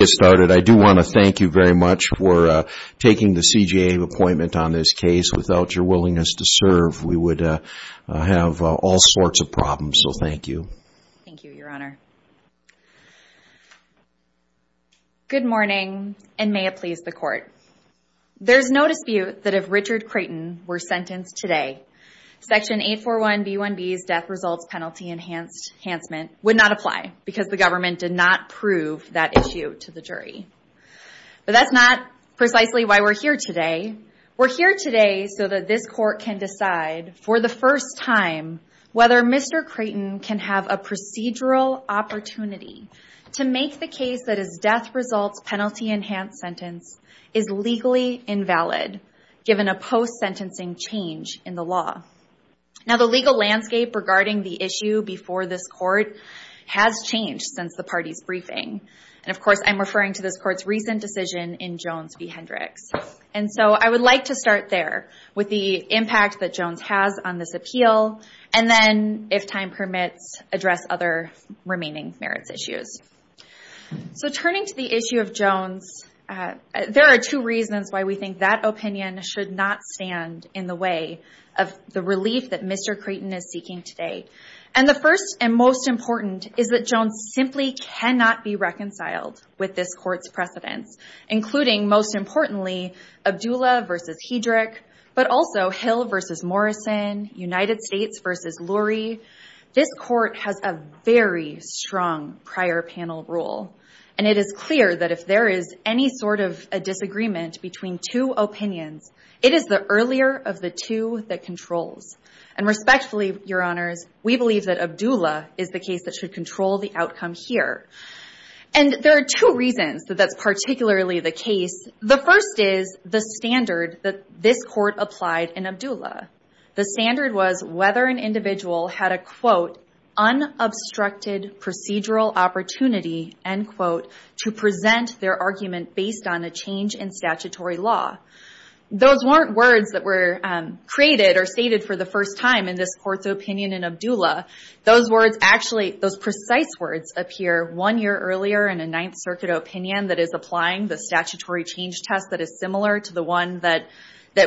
I do want to thank you very much for taking the CJA appointment on this case. Without your willingness to serve, we would have all sorts of problems. So, thank you. Thank you, Your Honor. Good morning, and may it please the Court. There is no dispute that if Richard Crayton were sentenced today, Section 841B1B's death results penalty enhancement would not apply because the government did not prove that issue to the jury. But that's not precisely why we're here today. We're here today so that this Court can decide for the first time whether Mr. Crayton can have a procedural opportunity to make the case that his death results penalty enhanced sentence is legally invalid, given a post-sentencing change in the law. Now, the legal landscape regarding the issue before this Court has changed since the party's briefing. And, of course, I'm referring to this Court's recent decision in Jones v. Hendricks. And so, I would like to start there, with the impact that Jones has on this appeal, and then, if time permits, address other remaining merits issues. So turning to the issue of Jones, there are two reasons why we think that opinion should not stand in the way of the relief that Mr. Crayton is seeking today. And the first and most important is that Jones simply cannot be reconciled with this Court's precedents, including, most importantly, Abdullah v. Hendricks, but also Hill v. Morrison, United States v. Lurie. This Court has a very strong prior panel rule. And it is clear that if there is any sort of a disagreement between two opinions, it is the earlier of the two that controls. And respectfully, Your Honors, we believe that Abdullah is the case that should control the outcome here. And there are two reasons that that's particularly the case. The first is the standard that this Court applied in Abdullah. The standard was whether an individual had a, quote, unobstructed procedural opportunity, end quote, to present their arguments based on a change in statutory law. Those weren't words that were created or stated for the first time in this Court's opinion in Abdullah. Those words actually, those precise words appear one year earlier in a Ninth Circuit opinion that is applying the statutory change test that is similar to the one that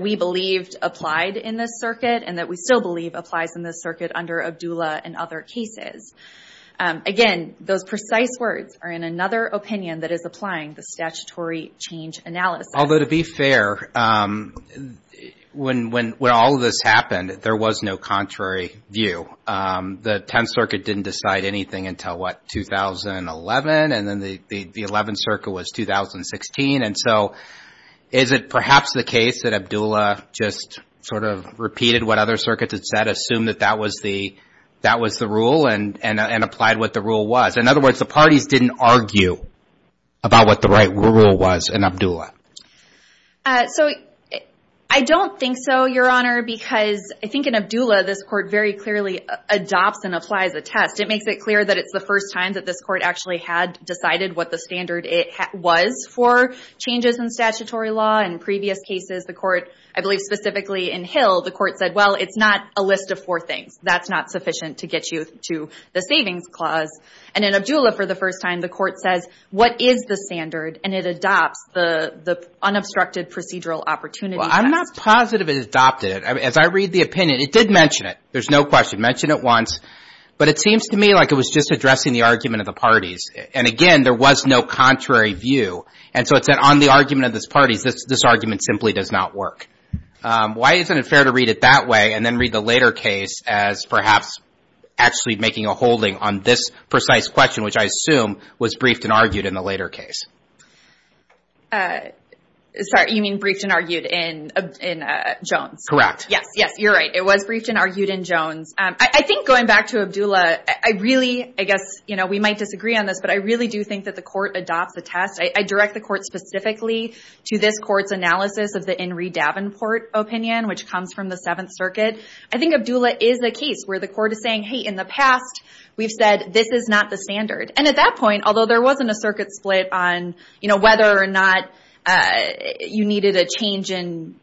we believed applied in this circuit and that we still believe applies in this circuit under Abdullah and other cases. Again, those precise words are in another opinion that is applying the statutory change analysis. Although, to be fair, when all of this happened, there was no contrary view. The Tenth Circuit didn't decide anything until, what, 2011? And then the Eleventh Circuit was 2016. And so is it perhaps the case that Abdullah just sort of repeated what other circuits had said, assumed that that was the rule and applied what the rule was? In other words, the parties didn't argue about what the right rule was in Abdullah. So I don't think so, Your Honor, because I think in Abdullah, this Court very clearly adopts and applies a test. It makes it clear that it's the first time that this Court actually had decided what the standard was for changes in statutory law. In previous cases, the Court, I believe specifically in Hill, the Court said, well, it's not a list of four things. That's not sufficient to get you to the Savings Clause. And in Abdullah, for the first time, the Court says, what is the standard? And it adopts the unobstructed procedural opportunity test. Well, I'm not positive it adopted it. As I read the opinion, it did mention it. There's no question. It mentioned it once. But it seems to me like it was just addressing the argument of the parties. And again, there was no contrary view. And so it said, on the argument of this party, this argument simply does not work. Why isn't it fair to read it that way, and then read the later case as perhaps actually making a holding on this precise question, which I assume was briefed and argued in the later case? Sorry, you mean briefed and argued in Jones? Correct. Yes, yes, you're right. It was briefed and argued in Jones. I think going back to Abdullah, I really, I guess, you know, we might disagree on this, but I really do think that the Court adopts the test. I direct the Court specifically to this Court's analysis of the Inri Davenport opinion, which comes from the Seventh Circuit. I think Abdullah is a case where the Court is saying, hey, in the past, we've said this is not the standard. And at that point, although there wasn't a circuit split on, you know, whether or not you needed a change in,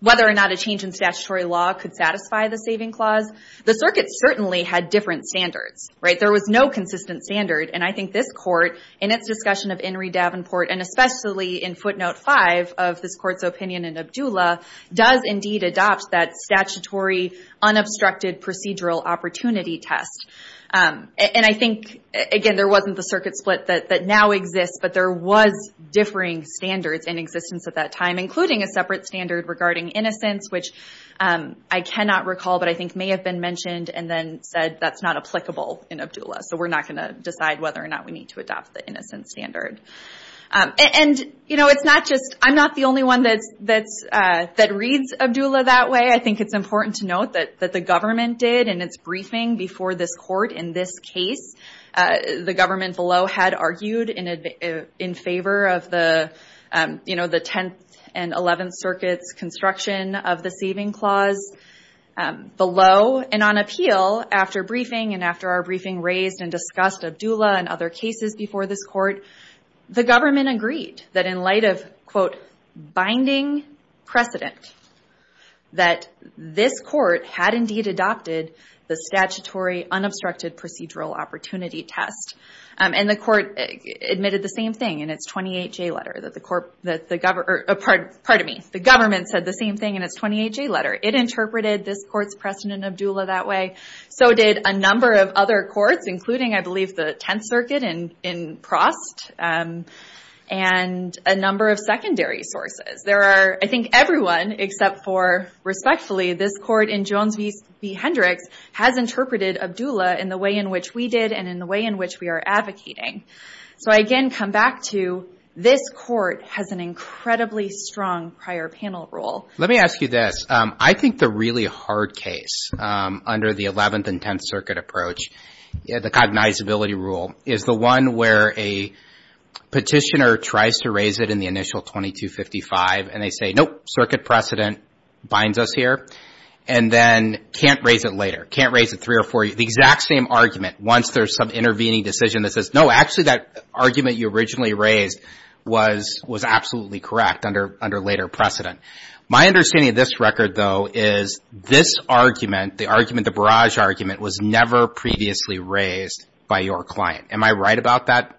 whether or not a change in statutory law could satisfy the saving clause, the Circuit certainly had different standards, right? There was no consistent standard. And I think this Court, in its discussion of Inri Davenport, and especially in footnote 5 of this Court's opinion in Abdullah, does indeed adopt that statutory unobstructed procedural opportunity test. And I think, again, there wasn't the circuit split that now exists, but there was differing standards in existence at that time, including a separate standard regarding innocence, which I cannot recall, but I think may have been mentioned and then said that's not applicable in Abdullah. So we're not going to decide whether or not we need to adopt the innocence standard. And you know, it's not just, I'm not the only one that reads Abdullah that way. I think it's important to note that the government did in its briefing before this Court in this case, the government below had argued in favor of the, you know, the Tenth and Eleventh Circuit's construction of the saving clause below. And on appeal, after briefing and after our briefing raised and discussed Abdullah and other cases before this Court, the government agreed that in light of, quote, binding precedent, that this Court had indeed adopted the statutory unobstructed procedural opportunity test. And the Court admitted the same thing in its 28-J letter, that the, pardon me, the government said the same thing in its 28-J letter. It included, I believe, the Tenth Circuit in Prost and a number of secondary sources. There are, I think everyone except for, respectfully, this Court in Jones v. Hendricks has interpreted Abdullah in the way in which we did and in the way in which we are advocating. So I again come back to this Court has an incredibly strong prior panel role. Let me ask you this. I think the really hard case under the Eleventh and Tenth Circuit approach, the cognizability rule, is the one where a petitioner tries to raise it in the initial 2255 and they say, nope, circuit precedent binds us here, and then can't raise it later, can't raise it three or four years, the exact same argument once there's some intervening decision that says, no, actually that argument you originally raised was absolutely correct under later precedent. My understanding of this record, though, is this argument, the argument, the barrage argument, was never previously raised by your client. Am I right about that?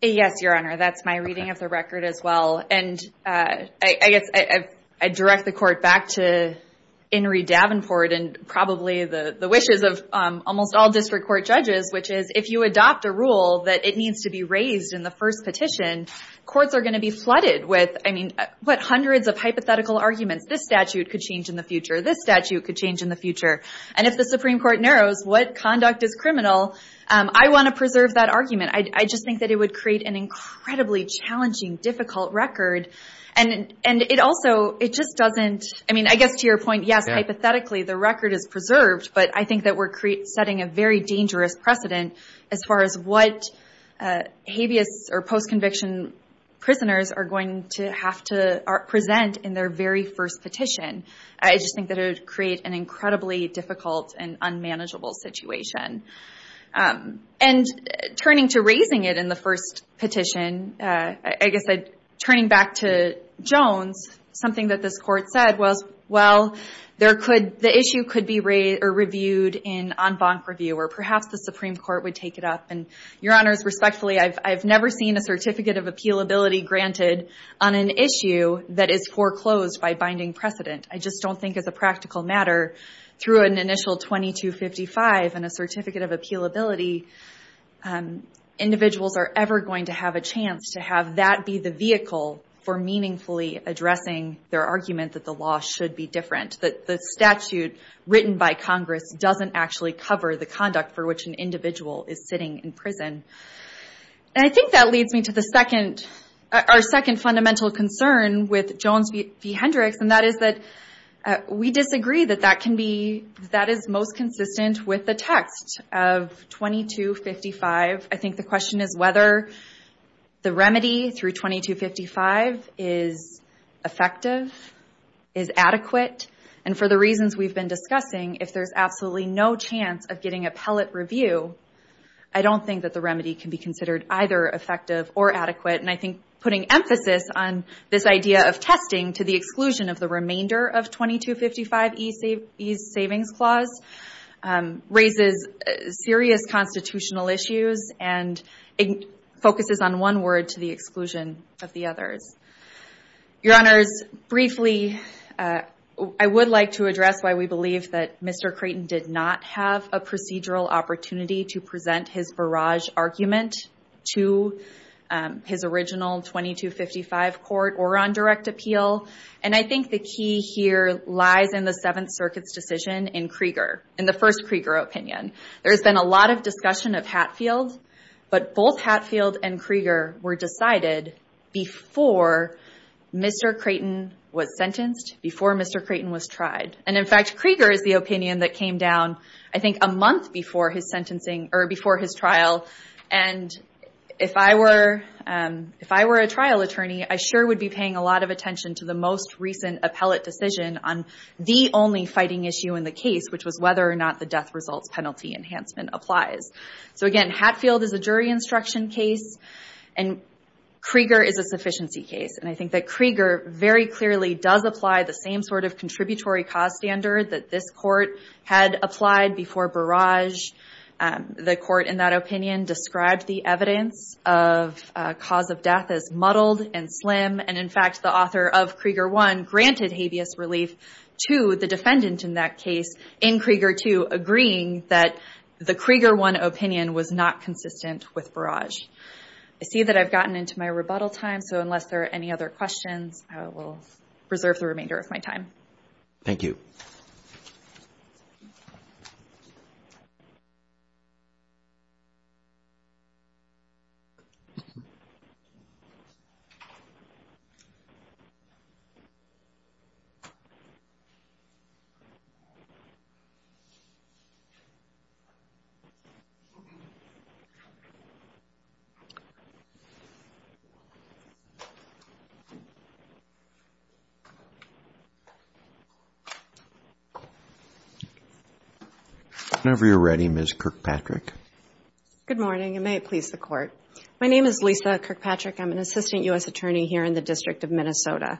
Yes, Your Honor. That's my reading of the record as well. And I guess I direct the Court back to Inri Davenport and probably the wishes of almost all district court judges, which is if you adopt a rule that it needs to be raised in the first petition, courts are going to be flooded with, I mean, what, hundreds of hypothetical arguments. This statute could change in the future. This statute could change in the future. And if the Supreme Court narrows what conduct is criminal, I want to preserve that argument. I just think that it would create an incredibly challenging, difficult record. And it also, it just doesn't, I mean, I guess to your point, yes, hypothetically the record is preserved, but I think that we're setting a very dangerous precedent as far as what habeas or post-conviction prisoners are going to have to present in their very first petition. I just think that it would create an incredibly difficult and unmanageable situation. And turning to raising it in the first petition, I guess turning back to Jones, something that this Court said was, well, the issue could be reviewed in en banc review, or perhaps the Supreme Court would take it up. And, Your Honors, respectfully, I've never seen a certificate of appealability granted on an issue that is foreclosed by binding precedent. I just don't think as a practical matter, through an initial 2255 and a certificate of appealability, individuals are ever going to have a chance to have that be the vehicle for meaningfully addressing their argument that the law should be different, that the statute written by Congress doesn't actually cover the conduct for which an individual is sitting in prison. And I think that leads me to our second fundamental concern with Jones v. Hendricks, and that is that we disagree that that is most consistent with the text of 2255. I think the question is whether the remedy through 2255 is effective, is adequate, and for the reasons we've been discussing, if there's absolutely no chance of getting appellate review, I don't think that the remedy can be considered either effective or adequate. And I think putting emphasis on this idea of testing to the exclusion of the remainder of 2255E's savings clause raises serious constitutional issues and focuses on one word to the exclusion of the others. Your Honors, briefly, I would like to address why we believe that Mr. Creighton did not have a procedural opportunity to present his barrage argument to his original 2255 court or on direct appeal. And I think the key here lies in the Seventh Circuit's decision in Krieger, in the first Krieger opinion. There's been a lot of discussion of Hatfield, but both Hatfield and Krieger were decided before Mr. Creighton was sentenced, before Mr. Creighton was tried. And in fact, Krieger is the opinion that came down, I think, a month before his trial. And if I were a trial attorney, I sure would be paying a lot of attention to the most recent appellate decision on the only fighting issue in the case, which was whether or not the death results penalty enhancement applies. So again, Hatfield is a jury instruction case and Krieger is a sufficiency case. And I think that Krieger very clearly does apply the same sort of contributory cause standard that this court had applied before barrage. The court in that opinion described the evidence of cause of death as muddled and slim. And in fact, the author of Krieger I granted habeas relief to the defendant in that case in Krieger II, agreeing that the Krieger I opinion was not consistent with barrage. I see that I've gotten into my rebuttal time, so unless there are any other questions, I will reserve the remainder of my time. Thank you. Whenever you're ready, Ms. Kirkpatrick. Good morning, and may it please the court. My name is Lisa Kirkpatrick. I'm an assistant U.S. attorney here in the District of Minnesota.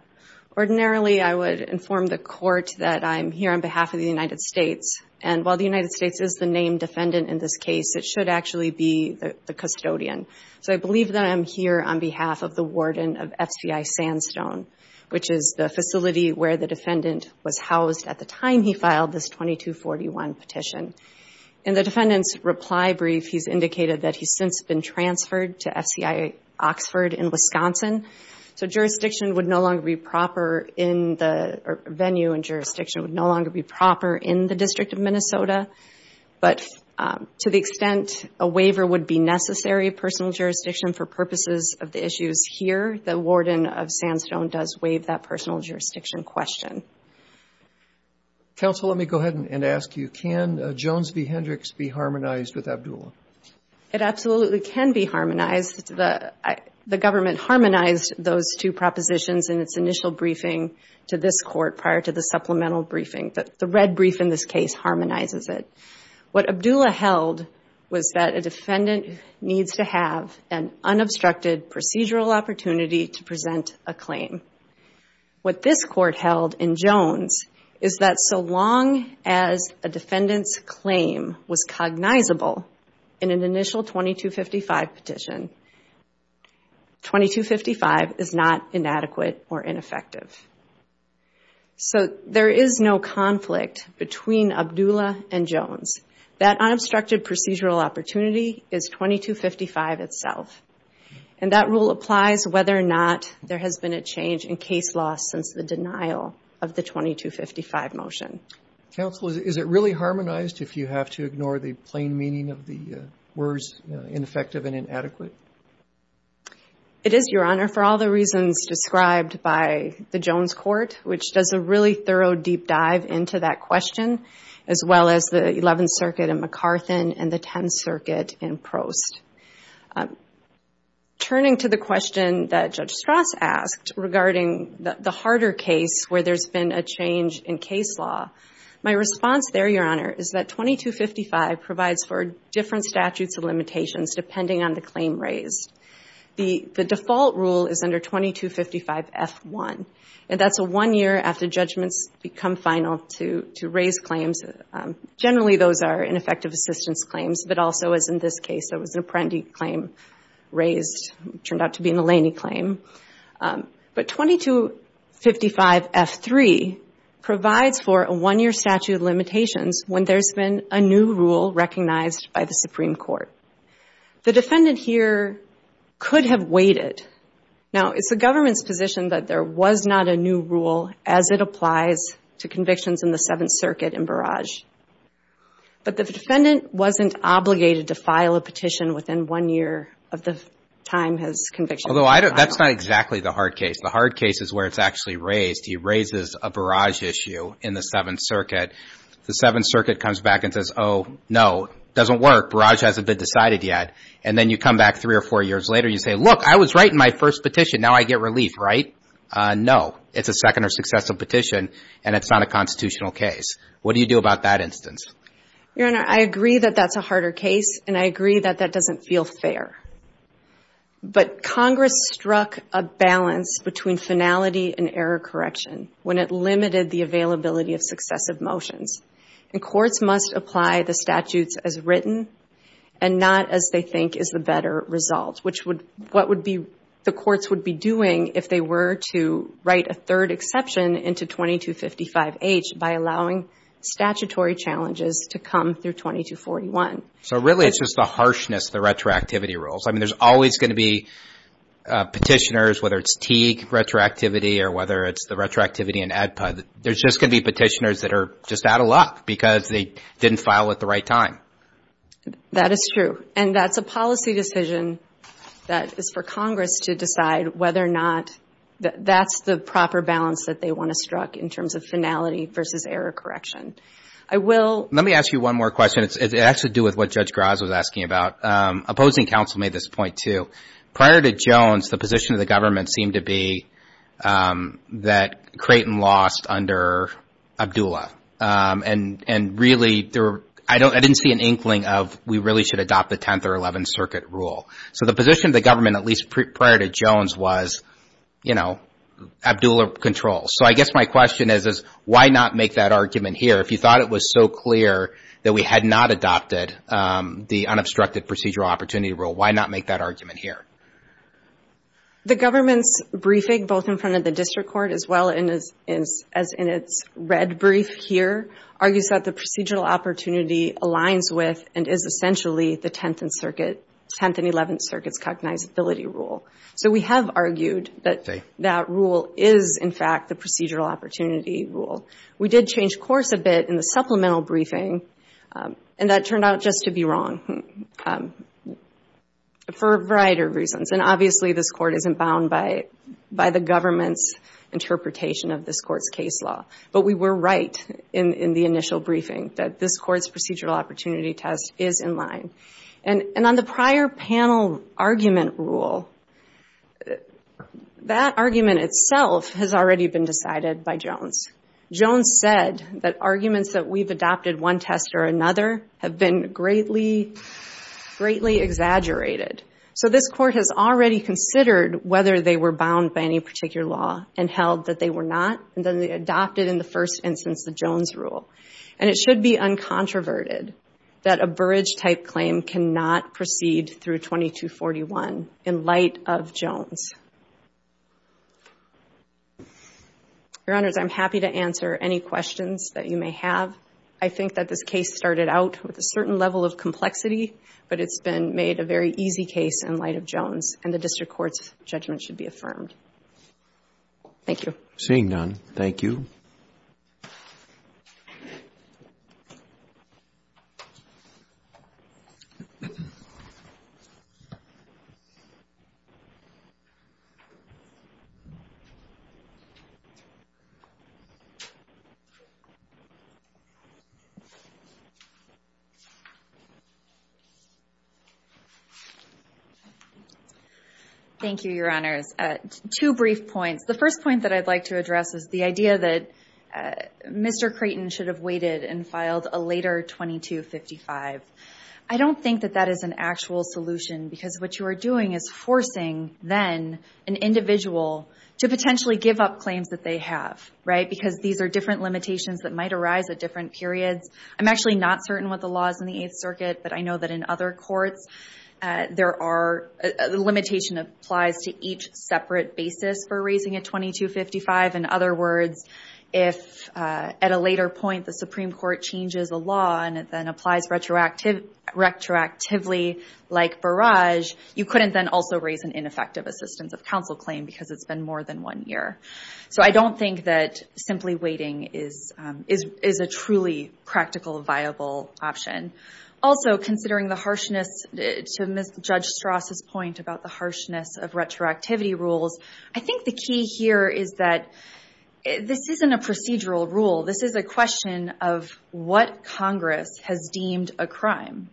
Ordinarily, I would inform the court that I'm here on behalf of the United States. And while the United States is the named defendant in this case, it should actually be the custodian. I believe that I'm here on behalf of the warden of FCI Sandstone, which is the facility where the defendant was housed at the time he filed this 2241 petition. In the defendant's reply brief, he's indicated that he's since been transferred to FCI Oxford in Wisconsin. So jurisdiction would no longer be proper in the venue and jurisdiction would no longer be proper in the District of Minnesota. But to the extent a waiver would be necessary of personal jurisdiction for purposes of the issues here, the warden of Sandstone does waive that personal jurisdiction question. Counsel, let me go ahead and ask you, can Jones v. Hendricks be harmonized with Abdullah? It absolutely can be harmonized. The government harmonized those two propositions in its initial briefing to this court prior to the supplemental briefing. The red brief in this case harmonizes it. What Abdullah held was that a defendant needs to have an unobstructed procedural opportunity to present a claim. What this court held in Jones is that so long as a defendant's claim was cognizable in an initial 2255 petition, 2255 is not inadequate or ineffective. So there is no conflict between Abdullah and 2255 itself. And that rule applies whether or not there has been a change in case law since the denial of the 2255 motion. Counsel, is it really harmonized if you have to ignore the plain meaning of the words ineffective and inadequate? It is, Your Honor, for all the reasons described by the Jones court, which does a really thorough deep dive into that question, as well as the 11th Circuit in McCarthin and the 10th Circuit in Prost. Turning to the question that Judge Strauss asked regarding the harder case where there has been a change in case law, my response there, Your Honor, is that 2255 provides for different statutes of limitations depending on the claim raised. The default rule is under 2255 F1. And that's a one-year after judgments become final to raise claims. Generally, those are ineffective assistance claims, but also, as in this case, it was an Apprendi claim raised, turned out to be an Eleni claim. But 2255 F3 provides for a one-year statute of limitations when there's been a new rule recognized by the Supreme Court. The defendant here could have waited. Now, it's the government's position that there was not a new rule as it applies to convictions in the 7th Circuit in Barrage. But the defendant wasn't obligated to file a petition within one year of the time his conviction was finalized. Although, that's not exactly the hard case. The hard case is where it's actually raised. He raises a Barrage issue in the 7th Circuit. The 7th Circuit comes back and says, oh, no, doesn't work. Barrage hasn't been decided yet. And then you come back three or four years later, you say, look, I was right in my first petition. Now, I get relief, right? No, it's a second or successive petition, and it's not a constitutional case. What do you do about that instance? Your Honor, I agree that that's a harder case, and I agree that that doesn't feel fair. But Congress struck a balance between finality and error correction when it limited the availability of successive motions. And courts must apply the statutes as written and not as they think is the better result, which would, what would be, the courts would be doing if they were to write a third exception into 2255H by allowing statutory challenges to come through 2241. So really, it's just the harshness of the retroactivity rules. I mean, there's always going to be petitioners, whether it's Teague retroactivity or whether it's the retroactivity in ADPUD, there's just going to be petitioners that are just out of luck because they didn't file at the right time. That is true. And that's a policy decision that is for Congress to decide whether or not that's the proper balance that they want to struck in terms of finality versus error correction. I will... Let me ask you one more question. It actually has to do with what Judge Graz was asking about. Opposing counsel made this point, too. Prior to Jones, the position of the government seemed to be that Creighton lost under Abdullah. And really, there were, I didn't see an issue or an inkling of we really should adopt the 10th or 11th Circuit rule. So the position of the government, at least prior to Jones, was, you know, Abdullah controls. So I guess my question is, why not make that argument here? If you thought it was so clear that we had not adopted the unobstructed procedural opportunity rule, why not make that argument here? The government's briefing, both in front of the district court as well as in its red brief here, argues that the procedural opportunity aligns with and is essentially the 10th and 11th Circuit's cognizability rule. So we have argued that that rule is, in fact, the procedural opportunity rule. We did change course a bit in the supplemental briefing, and that turned out just to be wrong for a variety of reasons. And obviously, this Court isn't bound by the government's interpretation of this Court's case law. But we were right in the initial briefing that this Court's procedural opportunity test is in line. And on the prior panel argument rule, that argument itself has already been decided by Jones. Jones said that arguments that we've adopted one test or another have been greatly exaggerated. So this Court has already considered whether they were bound by any particular law and held that they were not. And then they adopted, in the first instance, the Jones rule. And it should be uncontroverted that a Burridge-type claim cannot proceed through 2241 in light of Jones. Your Honors, I'm happy to answer any questions that you may have. I think that this case started out with a certain level of complexity, but it's been made a very easy case in light of Jones, and the District Court's judgment should be affirmed. Thank you. Seeing none, thank you. Thank you, Your Honors. Two brief points. The first point that I'd like to address is the idea that Mr. Creighton should have waited and filed a later 2255. I don't think that that is an actual solution, because what you are doing is forcing, then, an individual to potentially give up claims that they have, right? Because these are different limitations that might arise at different periods. I'm actually not certain what the law is in the case. The limitation applies to each separate basis for raising a 2255. In other words, if at a later point, the Supreme Court changes the law, and it then applies retroactively like Burridge, you couldn't then also raise an ineffective assistance of counsel claim, because it's been more than one year. So I don't think that simply waiting is a truly practical viable option. Also, considering the harshness, to Judge Strauss' point about the harshness of retroactivity rules, I think the key here is that this isn't a procedural rule. This is a question of what Congress has deemed a crime.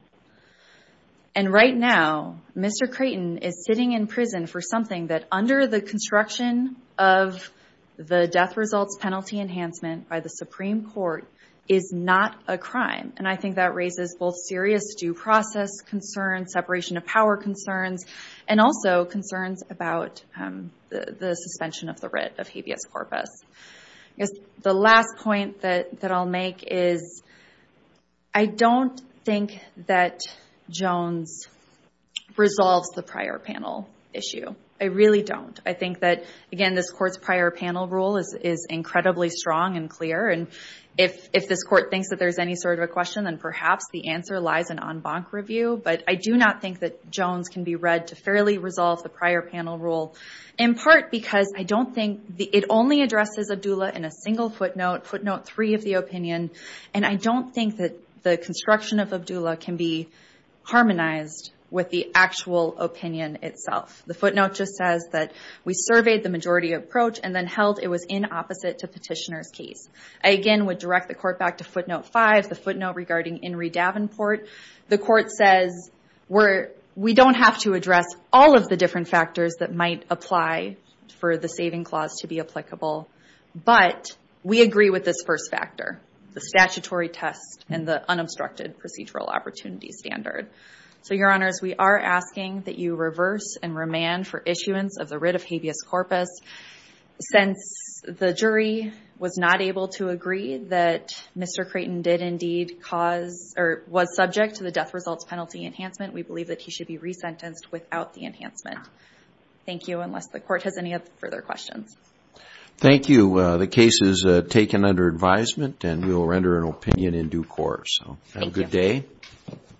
Right now, Mr. Creighton is sitting in prison for something that, under the construction of the death results penalty enhancement by the Supreme Court, is not a crime. And I think that raises both serious due process concerns, separation of power concerns, and also concerns about the suspension of the writ of habeas corpus. The last point that I'll make is, I don't think that Jones resolves the prior panel issue. I really don't. I think that, again, this Court's prior panel rule is incredibly strong and clear. And if this Court thinks that there's any sort of a question, then perhaps the answer lies in en banc review. But I do not think that Jones can be read to fairly resolve the prior panel rule, in part because I don't think it only addresses Abdullah in a single footnote, footnote three of the opinion. And I don't think that the footnote just says that we surveyed the majority approach and then held it was in opposite to petitioner's case. I, again, would direct the Court back to footnote five, the footnote regarding Inree Davenport. The Court says we don't have to address all of the different factors that might apply for the saving clause to be applicable, but we agree with this first factor, the statutory test and the unobstructed procedural opportunity standard. So, Your Honors, we are asking that you reverse and remand for issuance of the writ of habeas corpus. Since the jury was not able to agree that Mr. Creighton did indeed cause, or was subject to the death results penalty enhancement, we believe that he should be re-sentenced without the enhancement. Thank you, unless the Court has any further questions. Thank you. The case is taken under advisement and we will render an opinion in due course. Have a good day.